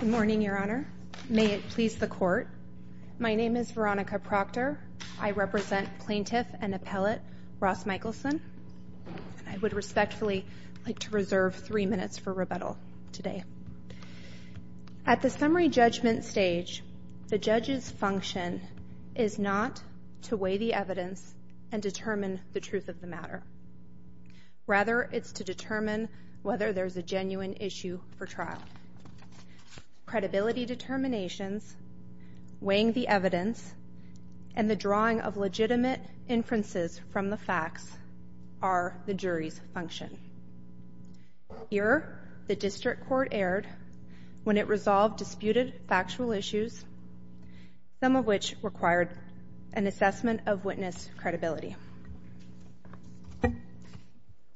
Good morning, Your Honor. May it please the court. My name is Veronica Proctor. I represent Plaintiff and Appellate Ross Mickelson. I would respectfully like to reserve three minutes for rebuttal today. At the summary judgment stage, the judge's function is not to weigh the evidence and determine the truth of the matter. Rather, it's to determine whether there's a genuine issue for trial. Credibility determinations, weighing the evidence, and the drawing of legitimate inferences from the facts are the jury's function. Here, the District Court erred when it resolved disputed factual issues, some of which required an assessment of witness credibility.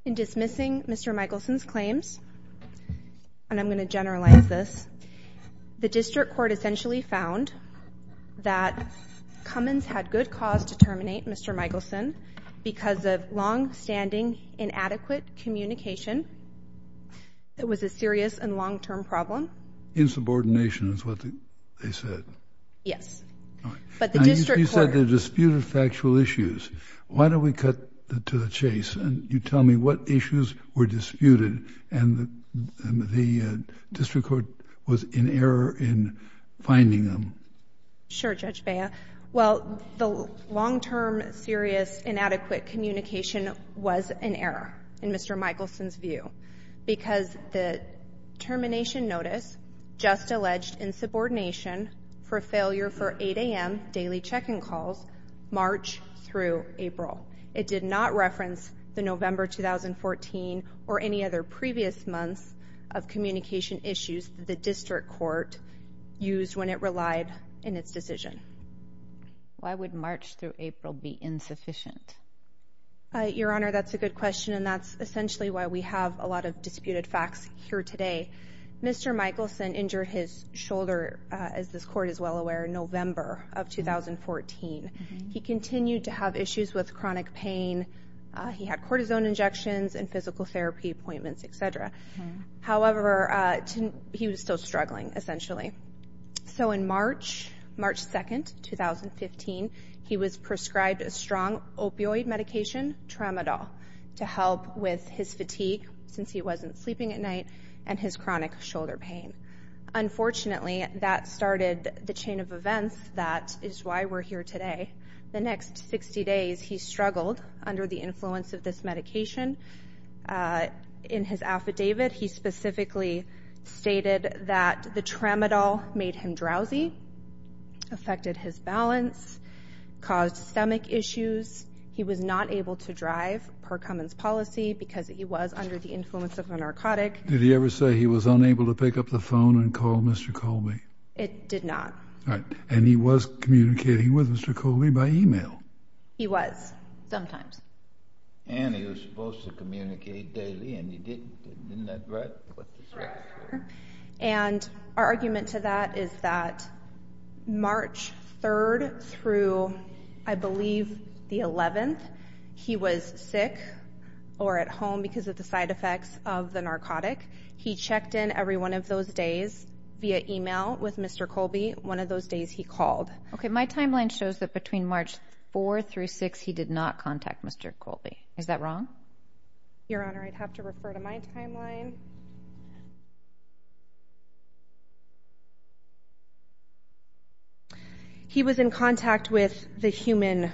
In dismissing Mr. Mickelson's claims, and I'm going to generalize this, the District Court essentially found that Cummins had good cause to terminate Mr. Mickelson because of longstanding inadequate communication. It was a serious and long-term problem. Insubordination is what they said? Yes. You said they're disputed factual issues. Why don't we cut to the chase and you tell me what issues were disputed and the District Court was in error in finding them? Sure, Judge Bea. Well, the long-term, serious, inadequate communication was an error in Mr. Mickelson's view because the termination notice just alleged insubordination for failure for 8 a.m. daily check-in calls March through April. It did not reference the November 2014 or any other previous months of communication issues that the District Court used when it relied in its decision. Why would March through April be insufficient? Your Honor, that's a good question and that's essentially why we have a lot of disputed facts here today. Mr. Mickelson injured his shoulder, as this Court is well aware, in November of 2014. He continued to have issues with chronic pain. He had cortisone injections and physical therapy appointments, etc. However, he was still struggling, essentially. So in March, March 2, 2015, he was prescribed a strong opioid medication, Tramadol, to help with his fatigue, since he wasn't sleeping at night, and his chronic shoulder pain. Unfortunately, that started the chain of events that is why we're here today. The next 60 days, he struggled under the influence of this medication. In his affidavit, he specifically stated that the Tramadol made him drowsy, affected his balance, caused stomach issues. He was not able to drive per Cummins' policy because he was under the influence of a narcotic. Did he ever say he was unable to pick up the phone and call Mr. Colby? It did not. All right. And he was communicating with Mr. Colby by email? He was, sometimes. And he was supposed to communicate daily, and he didn't. Isn't that right? And our argument to that is that March 3rd through, I believe, the 11th, he was sick or at home because of the side effects of the narcotic. He checked in every one of those days via email with Mr. Colby, one of those days he called. Okay, my timeline shows that between March 4 through 6, he did not contact Mr. Colby. Is that wrong? Your Honor, I'd have to refer to my timeline. He was in contact with the human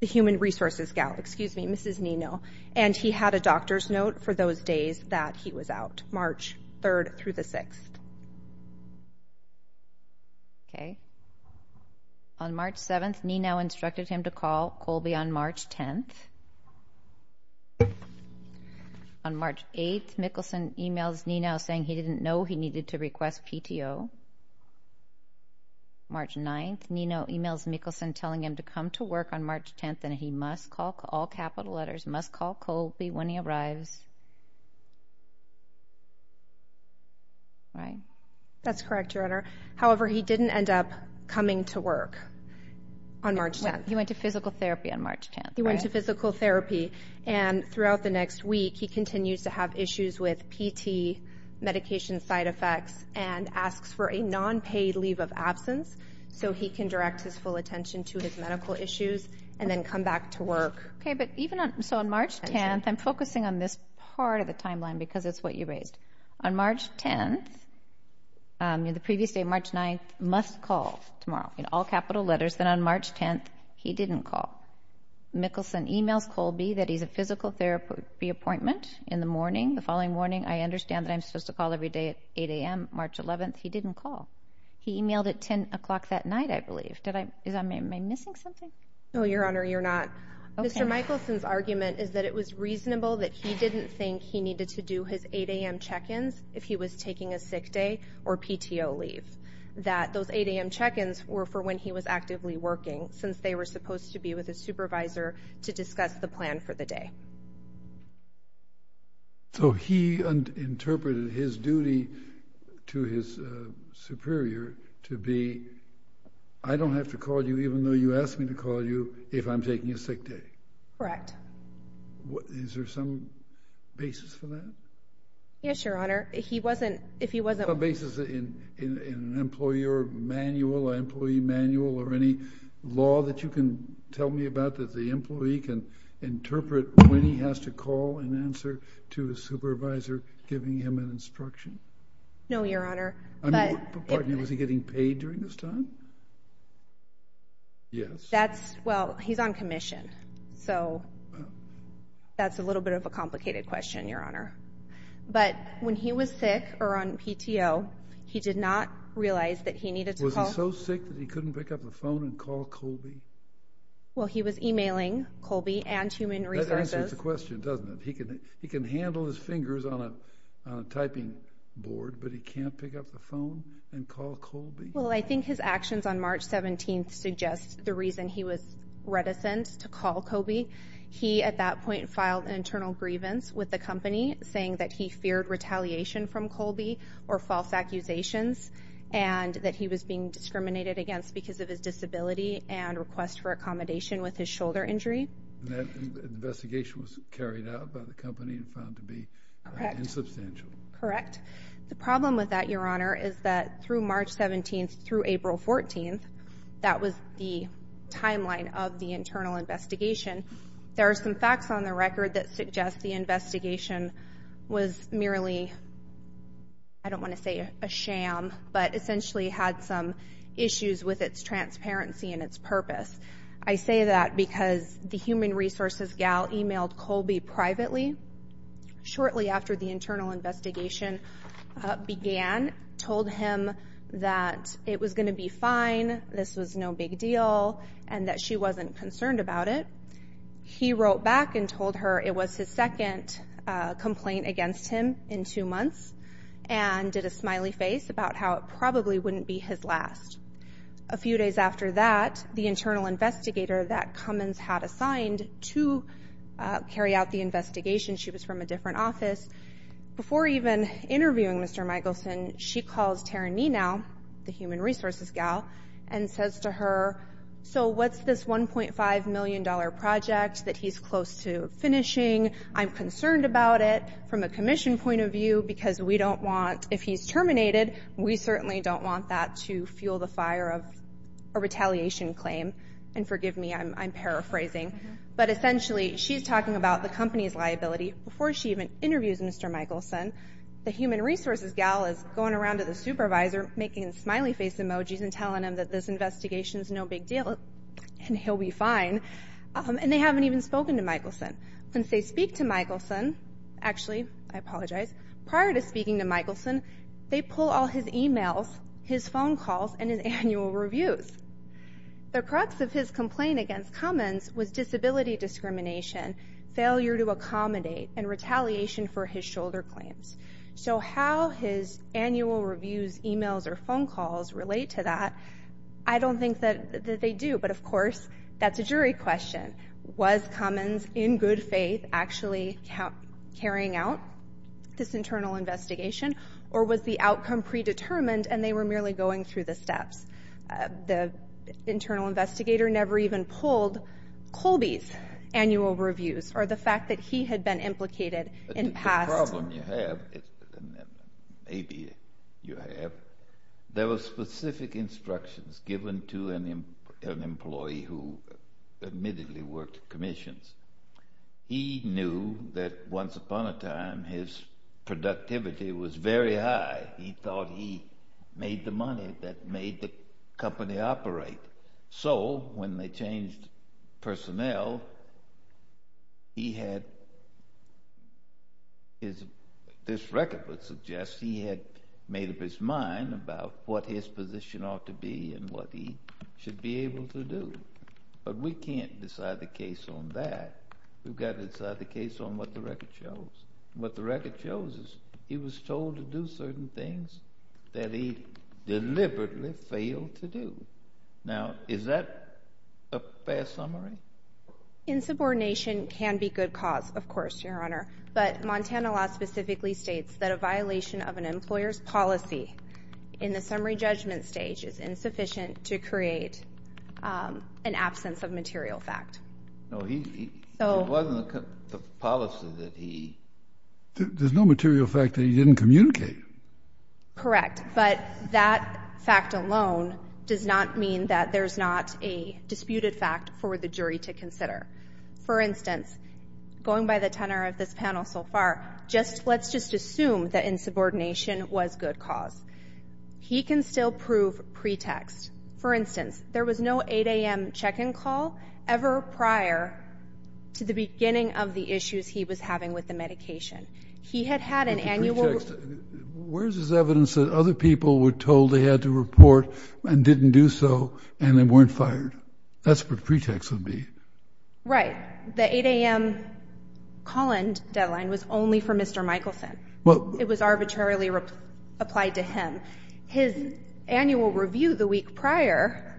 resources gal, excuse me, Mrs. Nino, and he had a doctor's note for those days that he was out, March 3rd through the 6th. Okay. On March 7th, Nino instructed him to call Colby on March 10th. On March 8th, Mickelson emails Nino saying he didn't know he needed to request PTO. March 9th, Nino emails Mickelson telling him to come to work on March 10th, and he must call, all capital letters, must call Colby when he arrives. Right. That's correct, Your Honor. However, he didn't end up coming to work on March 10th. He went to physical therapy on March 10th, right? He went to physical therapy, and throughout the next week, he continues to have issues with PT, medication side effects, and asks for a non-paid leave of absence so he can direct his full attention to his medical issues and then come back to work. Okay, but even on, so on March 10th, I'm focusing on this part of the timeline because it's what you raised. On March 10th, the previous day, March 9th, must call tomorrow, in all capital letters. Then on March 10th, he didn't call. Mickelson emails Colby that he's a physical therapy appointment in the morning. The following morning, I understand that I'm supposed to call every day at 8 a.m. March 11th. He didn't call. He emailed at 10 o'clock that night, I believe. Did I, am I missing something? No, Your Honor, you're not. Mr. Mickelson's argument is that it was reasonable that he didn't think he needed to do his 8 a.m. check-ins if he was taking a sick day or PTO leave. That those 8 a.m. check-ins were for when he was actively working since they were supposed to be with a supervisor to discuss the plan for the day. So he interpreted his duty to his superior to be, I don't have to call you even though you asked me to call you if I'm taking a sick day. Correct. Is there some basis for that? Yes, Your Honor. He wasn't, if he wasn't... Some basis in an employer manual, employee manual, or any law that you can tell me about that the employee can interpret when he has to call and answer to his supervisor, giving him an instruction? No, Your Honor, but... Pardon me, was he getting paid during this time? Yes. That's, well, he's on commission, so that's a little bit of a complicated question, Your Honor. But when he was sick or on PTO, he did not realize that he needed to call... Was he so sick that he couldn't pick up the phone and call Colby? Well, he was emailing Colby and human resources. That answers the question, doesn't it? He can handle his fingers on a typing board, but he can't pick up the phone and call Colby? Well, I think his actions on March 17th suggest the reason he was reticent to call Colby. He, at that point, filed an internal grievance with the company saying that he feared retaliation from Colby or false accusations and that he was being discriminated against because of his disability and request for accommodation with his shoulder injury. And that investigation was carried out by the company and found to be insubstantial? Correct. The problem with that, Your Honor, is that through March 17th through April 14th, that was the timeline of the internal investigation. There are some facts on the record that suggest the investigation was merely, I don't want to say a sham, but essentially had some issues with its transparency and its purpose. I say that because the human resources gal emailed Colby privately shortly after the told him that it was going to be fine. This was no big deal and that she wasn't concerned about it. He wrote back and told her it was his second complaint against him in two months and did a smiley face about how it probably wouldn't be his last. A few days after that, the internal investigator that Cummins had assigned to carry out the investigation, she was from a different office. Before even interviewing Mr. Michelson, she calls Taryn Nenow, the human resources gal, and says to her, so what's this $1.5 million project that he's close to finishing? I'm concerned about it from a commission point of view because we don't want, if he's terminated, we certainly don't want that to fuel the fire of a retaliation claim. And forgive me, I'm interviewing Mr. Michelson, the human resources gal is going around to the supervisor making smiley face emojis and telling him that this investigation is no big deal and he'll be fine. And they haven't even spoken to Michelson. Since they speak to Michelson, actually, I apologize, prior to speaking to Michelson, they pull all his emails, his phone calls, and his annual reviews. The crux of his complaint against Cummins was disability discrimination, failure to accommodate, and retaliation for his shoulder claims. So how his annual reviews, emails, or phone calls relate to that, I don't think that they do. But of course, that's a jury question. Was Cummins, in good faith, actually carrying out this internal investigation? Or was the outcome predetermined and they were merely going through the steps? The internal investigator never even pulled Colby's annual reviews or the fact that he had been implicated in past... The problem you have, maybe you have, there were specific instructions given to an employee who admittedly worked commissions. He knew that once upon a time, his productivity was very high. He thought he made the money that made the company operate. So when they changed personnel, he had his... This record would suggest he had made up his mind about what his position ought to be and what he should be able to do. But we can't decide the case on that. We've got to decide the case on what the record shows. What the record shows is he was told to do certain things that he deliberately failed to do. Now, is that a fair summary? Insubordination can be good cause, of course, Your Honor. But Montana law specifically states that a violation of an employer's policy in the summary judgment stage is insufficient to create an absence of material fact. No, it wasn't the policy that he... There's no material fact that he didn't communicate. Correct. But that fact alone does not mean that there's not a disputed fact for the jury to consider. For instance, going by the tenor of this panel so far, let's just assume that insubordination was good cause. He can still pretext. For instance, there was no 8 a.m. check-in call ever prior to the beginning of the issues he was having with the medication. He had had an annual... Where's his evidence that other people were told they had to report and didn't do so and they weren't fired? That's what pretext would be. Right. The 8 a.m. call-in deadline was only for Mr. Michelson. It was the week prior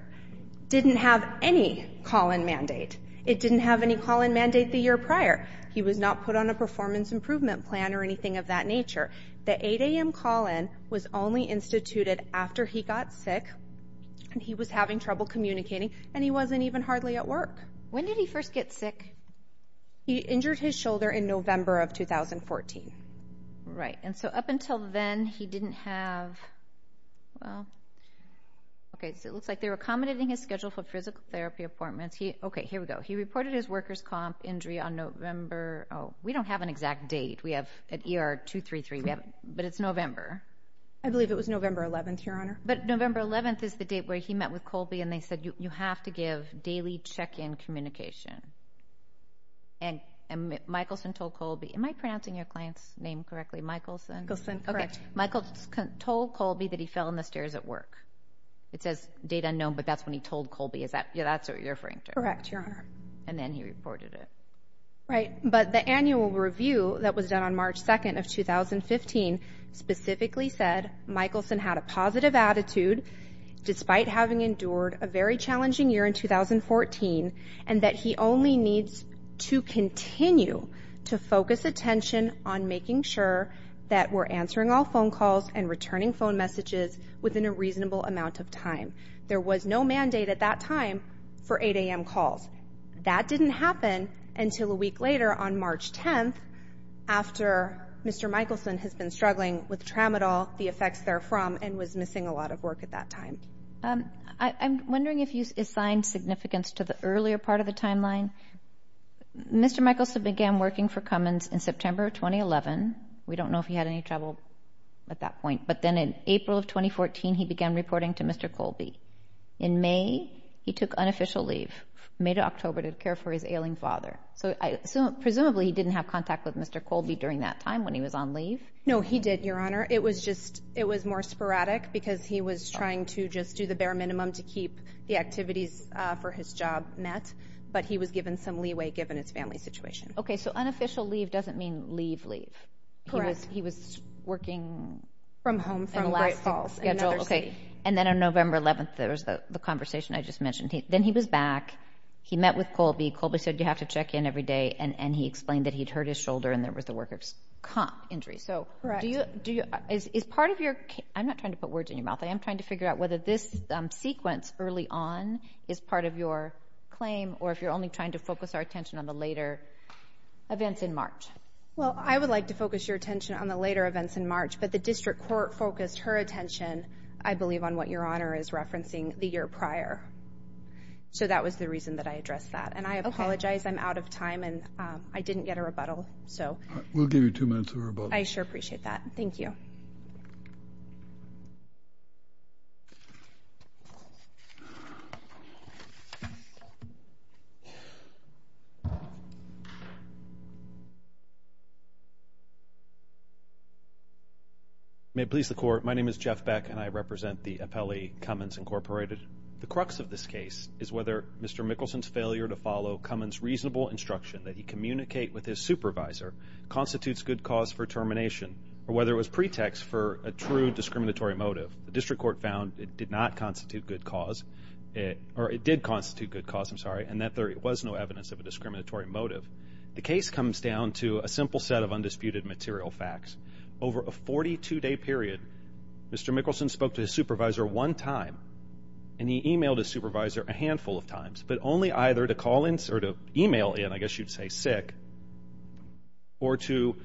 didn't have any call-in mandate. It didn't have any call-in mandate the year prior. He was not put on a performance improvement plan or anything of that nature. The 8 a.m. call-in was only instituted after he got sick and he was having trouble communicating and he wasn't even hardly at work. When did he first get sick? He injured his shoulder in November of 2014. Right. Up until then, he didn't have... Well, okay. It looks like they were accommodating his schedule for physical therapy appointments. Okay. Here we go. He reported his workers comp injury on November... Oh, we don't have an exact date. We have at ER 233, but it's November. I believe it was November 11th, Your Honor. But November 11th is the date where he met with Colby and they said, you have to give daily check-in communication. And Michelson told Colby... Am I pronouncing your client's name correctly? Michelson? Michelson, correct. Michelson told Colby that he fell in the stairs at work. It says date unknown, but that's when he told Colby. Is that what you're referring to? Correct, Your Honor. And then he reported it. Right. But the annual review that was done on March 2nd of 2015 specifically said Michelson had a positive attitude, despite having endured a very challenging year in 2014, and that he only needs to continue to focus attention on making sure that we're answering all phone calls and returning phone messages within a reasonable amount of time. There was no mandate at that time for 8 a.m. calls. That didn't happen until a week later on March 10th, after Mr. Michelson has been struggling with Tramadol, the effects therefrom, and was missing a lot of work at that time. I'm wondering if you assign significance to the earlier part of the timeline. Mr. Michelson began working for Cummins in September 2011. We don't know if he had any trouble at that point. But then in April of 2014, he began reporting to Mr. Colby. In May, he took unofficial leave. May to October to care for his ailing father. Presumably, he didn't have contact with Mr. Colby during that time, when he was on leave? No, he did, Your Honor. It was more sporadic, because he was trying to just do the bare minimum to keep the activities for his job met. But he was given some leeway, given his family situation. Okay, so unofficial leave doesn't mean leave, leave. Correct. He was working... From home, from Great Falls, in another city. And then on November 11th, there was the conversation I just mentioned. Then he was back. He met with Colby. Colby said, you have to check in every day. And he explained that he'd hurt his shoulder, and there was the worker's comp injury. Correct. So is part of your... I'm not trying to put words in your mouth. I am trying to figure out whether this sequence early on is part of your claim, or if you're only trying to focus our attention on the later events in March. Well, I would like to focus your attention on the later events in March. But the district court focused her attention, I believe, on what Your Honor is referencing the year prior. So that was the reason that I addressed that. And I apologize. I'm out of time. And I didn't get a rebuttal. So... We'll give you two minutes of rebuttal. I sure appreciate that. Thank you. May it please the Court. My name is Jeff Beck, and I represent the Appellee Cummins Incorporated. The crux of this case is whether Mr. Mickelson's failure to follow Cummins's reasonable instruction that he communicate with his supervisor constitutes good cause for termination, or whether it was pretext for a true discriminatory motive. The district court found it did not constitute good cause, or it did constitute good cause, I'm sorry, and that there was no evidence of a discriminatory motive. The case comes down to a simple set of undisputed material facts. Over a 42-day period, Mr. Mickelson spoke to his supervisor one time, and he emailed his supervisor a handful of times, but only either to call in, or to email in, I guess you'd say sick, or to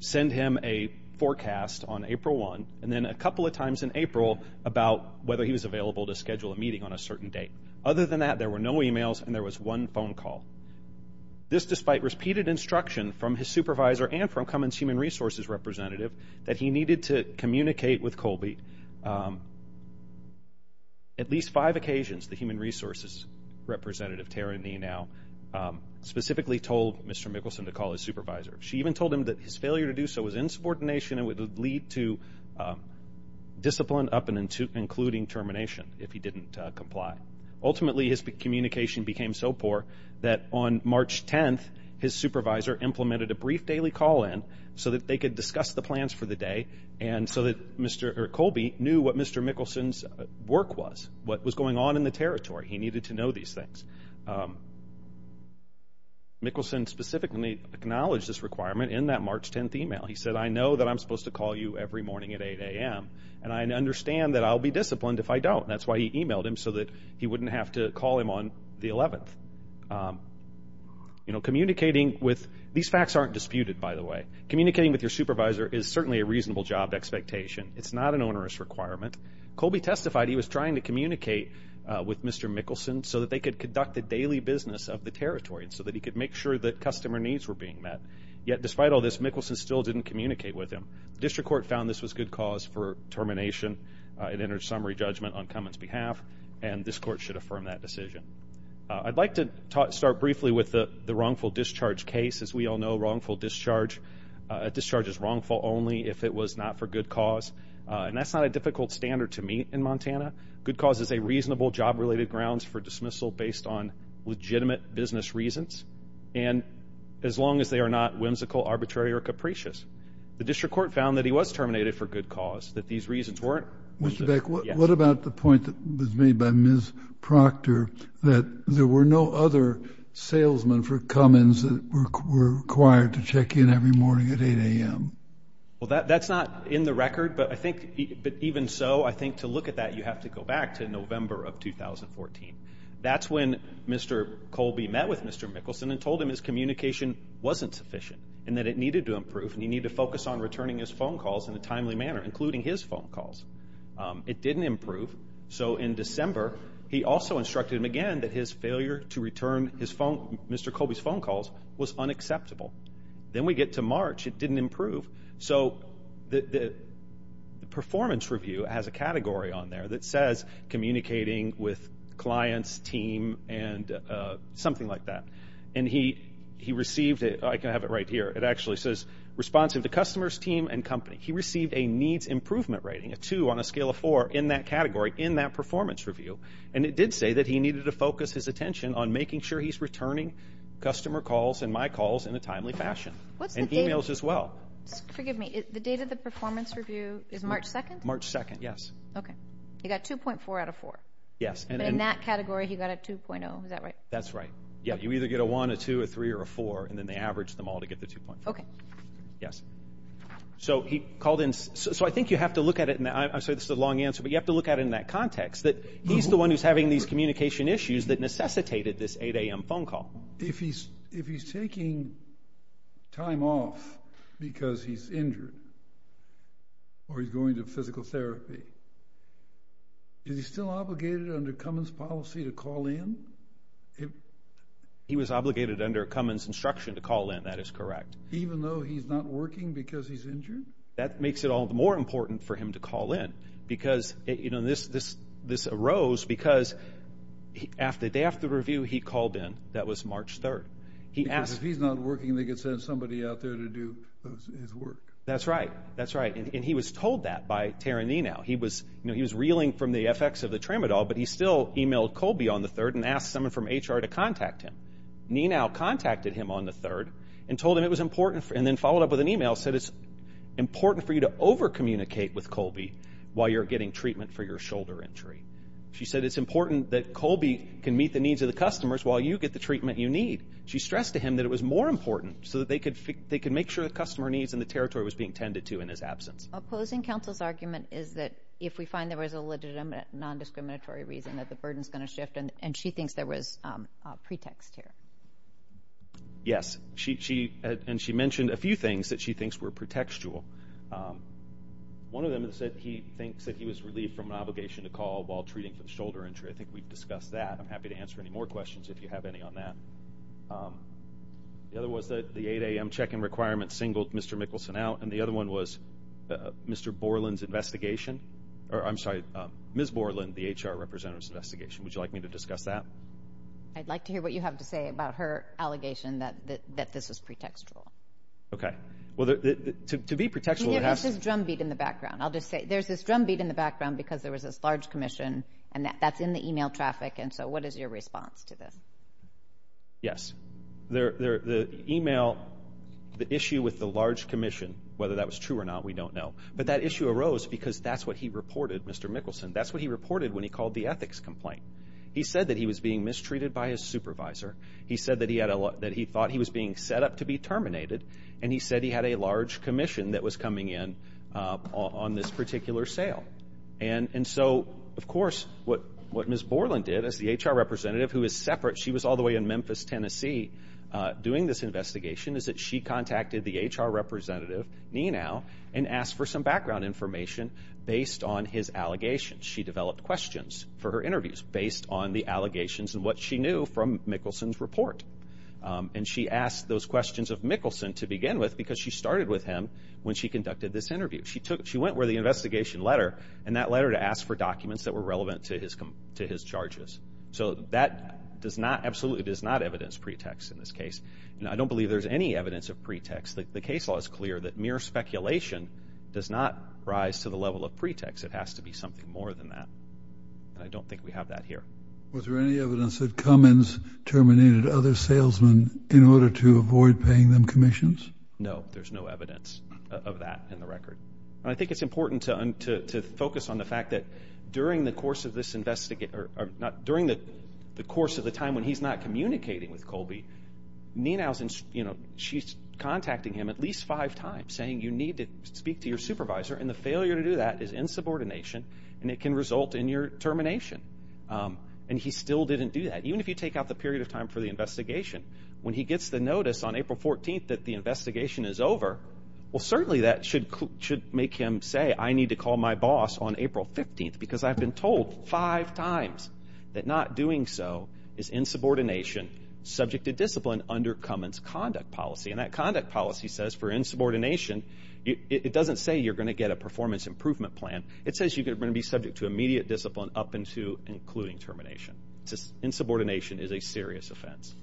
send him a forecast on April 1, and then a couple of times in April about whether he was available to schedule a meeting on a certain date. Other than that, there were no emails, and there was one phone call. This, despite repeated instruction from his supervisor and from Cummins's human resources representative that he needed to communicate with Colby, at least five occasions, the human resources representative, Tara Neenow, specifically told Mr. Mickelson to call his supervisor. She even told him that his failure to do so was insubordination, and would lead to discipline up and including termination if he didn't comply. Ultimately, his communication became so poor that on March 10, his supervisor implemented a brief daily call in so that they could discuss the plans for the day, and so that Mr. Colby knew what Mr. Mickelson's work was, what was going on in the territory. He needed to know these things. Mickelson specifically acknowledged this requirement in that March 10 email. He said, I know that I'm supposed to call you every morning at 8 a.m., and I understand that I'll be disciplined if I don't. That's why he emailed him, so that he wouldn't have to call him on the 11th. These facts aren't disputed, by the way. Communicating with your supervisor is certainly a reasonable job expectation. It's not an onerous requirement. Colby testified he was trying to communicate with Mr. Mickelson so that they could conduct the daily business of the territory, and so that he could make sure that customer needs were being met. Yet, despite all this, Mickelson still didn't communicate with him. The district court found this was good cause for termination. It entered summary judgment on Cummins' behalf, and this court should affirm that decision. I'd like to start briefly with the wrongful discharge case. As we all know, wrongful discharge is wrongful only if it was not for good cause. And that's not a difficult standard to meet in Montana. Good cause is a reasonable job-related grounds for dismissal based on legitimate business reasons, and as long as they are not whimsical, arbitrary, or capricious. The district court found that he was terminated for good cause, that these reasons weren't. Mr. Beck, what about the point that was made by Ms. Proctor that there were no other salesmen for Cummins that were required to check in every morning at 8 a.m.? Well, that's not in the record, but I think even so, I think to look at that, you have to go back to November of 2014. That's when Mr. Colby met with Mr. Mickelson and told him his communication wasn't sufficient and that it needed to improve and he needed to focus on returning his phone calls in a timely manner, including his phone calls. It didn't improve. So in December, he also instructed him again that his failure to return his phone, Mr. Colby's phone calls, was unacceptable. Then we get to March, it didn't improve. So the performance review has a category on there that says communicating with clients, team, and something like that. And he received it, I can have it right here, it actually says responsive to customers, team, and company. He received a needs improvement rating, a 2 on a scale of 4, in that category, in that performance review. And it did say that he needed to focus his attention on making sure he's returning customer calls and my calls in a timely fashion, and emails as well. Forgive me, the date of the performance review is March 2nd? March 2nd, yes. Okay. He got 2.4 out of 4. Yes. But in that category, he got a 2.0, is that right? That's right. Yeah, you either get a 1, a 2, a 3, or a 4, and then they average them all to get the 2.4. Okay. Yes. So he called in, so I think you have to look at it, and I'm sorry this is a long answer, but you have to look at it in that context, that he's the one who's having these communication issues that necessitated this 8am phone call. If he's taking time off because he's injured, or he's going to physical therapy, is he still obligated under Cummins policy to call in? He was obligated under Cummins instruction to call in, that is correct. Even though he's not working because he's injured? That makes it all the more important for him to call in. Because, you know, this arose because the day after the review, he called in. That was March 3rd. Because if he's not working, they could send somebody out there to do his work. That's right. That's right. And he was told that by Taranino. He was reeling from the effects of the tramadol, but he still emailed Colby on the 3rd and asked someone from HR to contact him. Nenow contacted him on the 3rd and told him it was important. And then followed up with an email, said it's important for you to over-communicate with Colby while you're getting treatment for your shoulder injury. She said it's important that Colby can meet the needs of the customers while you get the treatment you need. She stressed to him that it was more important so that they could make sure the customer needs and the territory was being tended to in his absence. Opposing counsel's argument is that if we find there was a legitimate, non-discriminatory reason, that the burden's going to shift and she thinks there was pretext here. Yes. She, she, and she mentioned a few things that she thinks were pretextual. One of them is that he thinks that he was relieved from an obligation to call while treating for the shoulder injury. I think we've discussed that. I'm happy to answer any more questions if you have any on that. The other was that the 8 a.m. check-in requirement singled Mr. Mickelson out. And the other one was Mr. Borland's investigation. Or, I'm sorry, Ms. Borland, the HR representative's investigation. Would you like me to discuss that? I'd like to hear what you have to say about her allegation that, that, that this was pretextual. Okay. Well, to, to be pretextual, it has to... There's this drumbeat in the background. I'll just say, there's this drumbeat in the background because there was this large commission and that, that's in the email traffic. And so, what is your response to this? Yes. There, there, the email, the issue with the large commission, whether that was true or we don't know. But that issue arose because that's what he reported, Mr. Mickelson. That's what he reported when he called the ethics complaint. He said that he was being mistreated by his supervisor. He said that he had a lot, that he thought he was being set up to be terminated. And he said he had a large commission that was coming in on this particular sale. And, and so, of course, what, what Ms. Borland did as the HR representative, who is separate, she was all the way in Memphis, Tennessee, doing this investigation, is that she contacted the HR representative, Nenow, and asked for some background information based on his allegations. She developed questions for her interviews based on the allegations and what she knew from Mickelson's report. And she asked those questions of Mickelson to begin with because she started with him when she conducted this interview. She took, she went with the investigation letter and that letter to ask for documents that were relevant to his, to his charges. So, that does not, absolutely does not evidence pretext in this case. Now, I don't believe there's any evidence of pretext. The case law is clear that mere speculation does not rise to the level of pretext. It has to be something more than that. And I don't think we have that here. Was there any evidence that Cummins terminated other salesmen in order to avoid paying them commissions? No, there's no evidence of that in the record. And I think it's important to, to, to focus on the fact that during the course of this Ninow's, you know, she's contacting him at least five times saying you need to speak to your supervisor and the failure to do that is insubordination and it can result in your termination. And he still didn't do that. Even if you take out the period of time for the investigation, when he gets the notice on April 14th that the investigation is over, well certainly that should, should make him say I need to call my boss on April 15th because I've been told five times that not doing so is insubordination, subject to discipline under Cummins conduct policy. And that conduct policy says for insubordination, it doesn't say you're going to get a performance improvement plan. It says you're going to be subject to immediate discipline up until including termination. Insubordination is a serious offense.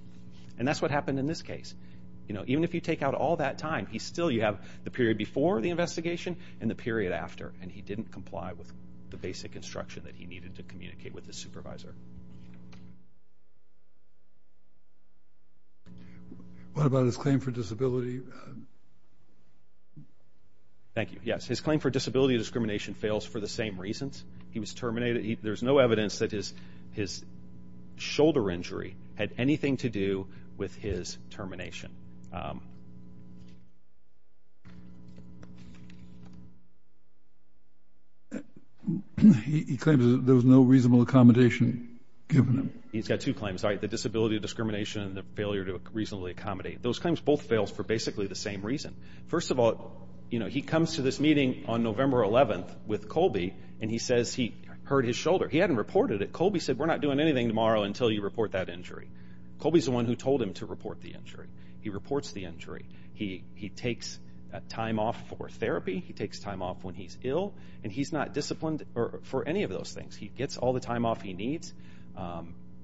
And that's what happened in this case. You know, even if you take out all that time, he's still, you have the period before the investigation and the period after. And he didn't comply with the basic instruction that he needed to communicate with the supervisor. What about his claim for disability? Thank you. Yes, his claim for disability discrimination fails for the same reasons. He was terminated. There's no evidence that his, his shoulder injury had anything to do with his termination. He claims there was no reasonable accommodation given him. He's got two claims, right? The disability discrimination and the failure to reasonably accommodate. Those claims both fails for basically the same reason. First of all, you know, he comes to this meeting on November 11th with Colby and he says he hurt his shoulder. He hadn't reported it. Colby said, we're not doing anything tomorrow until you report that injury. Colby's the one who told him to report the injury. He reports the injury. He, he takes time off for therapy. He takes time off when he's ill and he's not disciplined for any of those things. He gets all the time off he needs.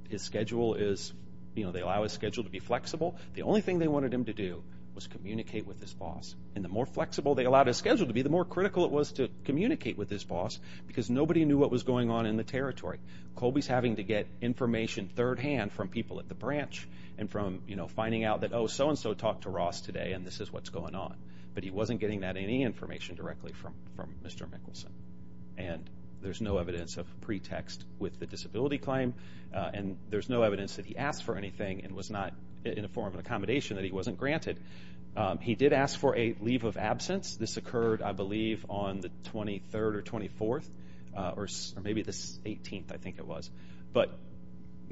His schedule is, you know, they allow his schedule to be flexible. The only thing they wanted him to do was communicate with his boss. And the more flexible they allowed his schedule to be, the more critical it was to communicate with his boss because nobody knew what was going on in the territory. Colby's having to get information third-hand from people at the branch and from, you know, finding out that, oh, so-and-so talked to Ross today and this is what's going on. But he wasn't getting that any information directly from, from Mr. Mickelson. And there's no evidence of pretext with the disability claim. And there's no evidence that he asked for anything and was not in a form of accommodation that he wasn't granted. He did ask for a leave of absence. This occurred, I believe, on the 23rd or 24th or maybe the 18th, I think it was. But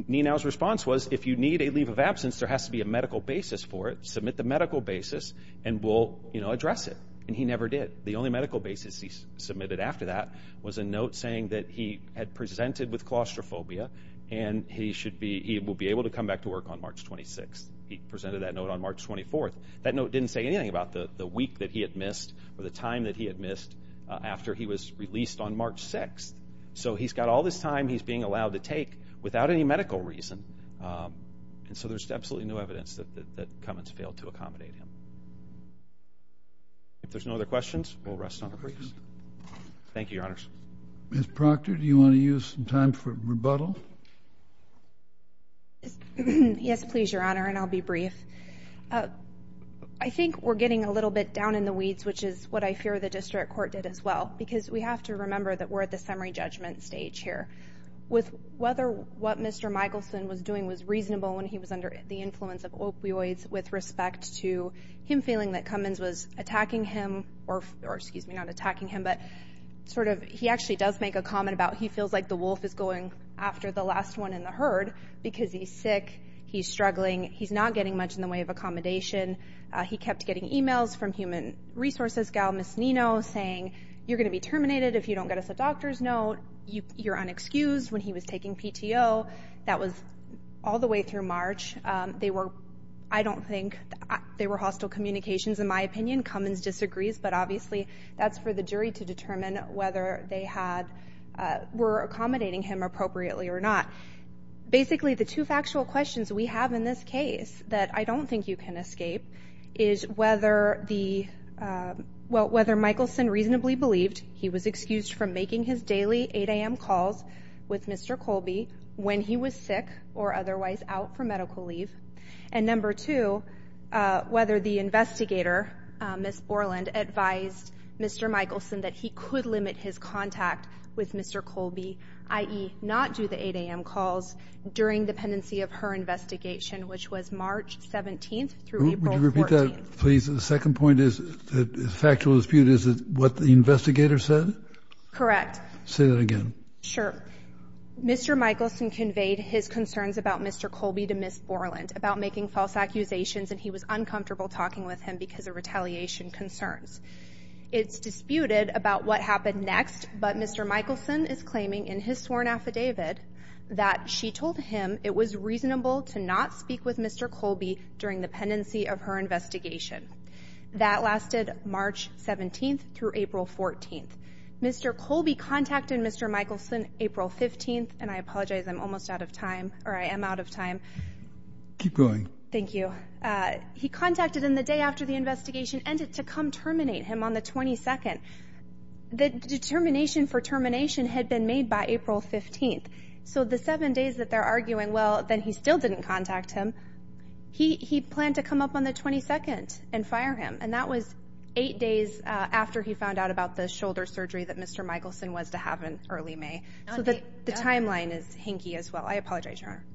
Nenow's response was, if you need a leave of absence, there has to be a medical basis for it. Submit the medical basis and we'll, you know, address it. And he never did. The only medical basis he submitted after that was a note saying that he had presented with claustrophobia and he should be, he will be able to come back to work on March 26th. He presented that note on March 24th. That note didn't say anything about the week that he had missed or the time that he had missed after he was released on March 6th. So he's got all this time he's being allowed to take without any medical reason. And so there's absolutely no evidence that Cummins failed to accommodate him. If there's no other questions, we'll rest on the briefs. Thank you, Your Honors. Ms. Proctor, do you want to use some time for rebuttal? Yes, please, Your Honor. And I'll be brief. I think we're getting a little bit down in the weeds, which is what I fear the district court did as well. Because we have to remember that we're at the summary judgment stage here. With whether what Mr. Michelson was doing was reasonable when he was under the influence of opioids with respect to him feeling that Cummins was attacking him or, excuse me, not attacking him, but sort of he actually does make a comment about he feels like the wolf is going after the last one in the herd because he's sick. He's struggling. He's not getting much in the way of accommodation. He kept getting emails from Human Resources gal, Ms. Nino, saying, you're going to be terminated if you don't get us a doctor's note. You're unexcused when he was taking PTO. That was all the way through March. They were, I don't think, they were hostile communications in my opinion. Cummins disagrees. But obviously, that's for the jury to determine whether they had, were accommodating him appropriately or not. Basically, the two factual questions we have in this case that I don't think you can escape is whether the, well, whether Michelson reasonably believed he was excused from making his daily 8 a.m. calls with Mr. Colby when he was sick or otherwise out for medical leave. And number two, whether the investigator, Ms. Borland, advised Mr. Michelson that he could limit his contact with Mr. Colby, i.e. not do the 8 a.m. calls during the pendency of her investigation, which was March 17th through April 14th. Would you repeat that, please? The second point is that the factual dispute is what the investigator said? Correct. Say that again. Sure. Mr. Michelson conveyed his concerns about Mr. Colby to Ms. Borland about making false accusations and he was uncomfortable talking with him because of retaliation concerns. It's disputed about what happened next. But Mr. Michelson is claiming in his sworn affidavit that she told him it was reasonable to not speak with Mr. Colby during the pendency of her investigation. That lasted March 17th through April 14th. Mr. Colby contacted Mr. Michelson April 15th. And I apologize. I'm almost out of time or I am out of time. Keep going. Thank you. He contacted him the day after the investigation ended to come terminate him on the 22nd. The determination for termination had been made by April 15th. So the seven days that they're arguing, well, then he still didn't contact him. He planned to come up on the 22nd and fire him. That was eight days after he found out about the shoulder surgery that Mr. Michelson was to have in early May. So the timeline is hinky as well. I apologize, Your Honor.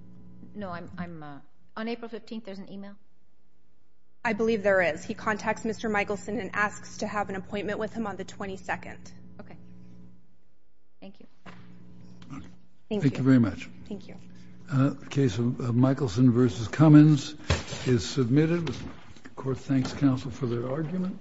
No, I'm not. On April 15th, there's an email? I believe there is. He contacts Mr. Michelson and asks to have an appointment with him on the 22nd. Okay. Thank you. Thank you very much. Thank you. The case of Michelson v. Cummins is submitted. The court thanks counsel for their argument.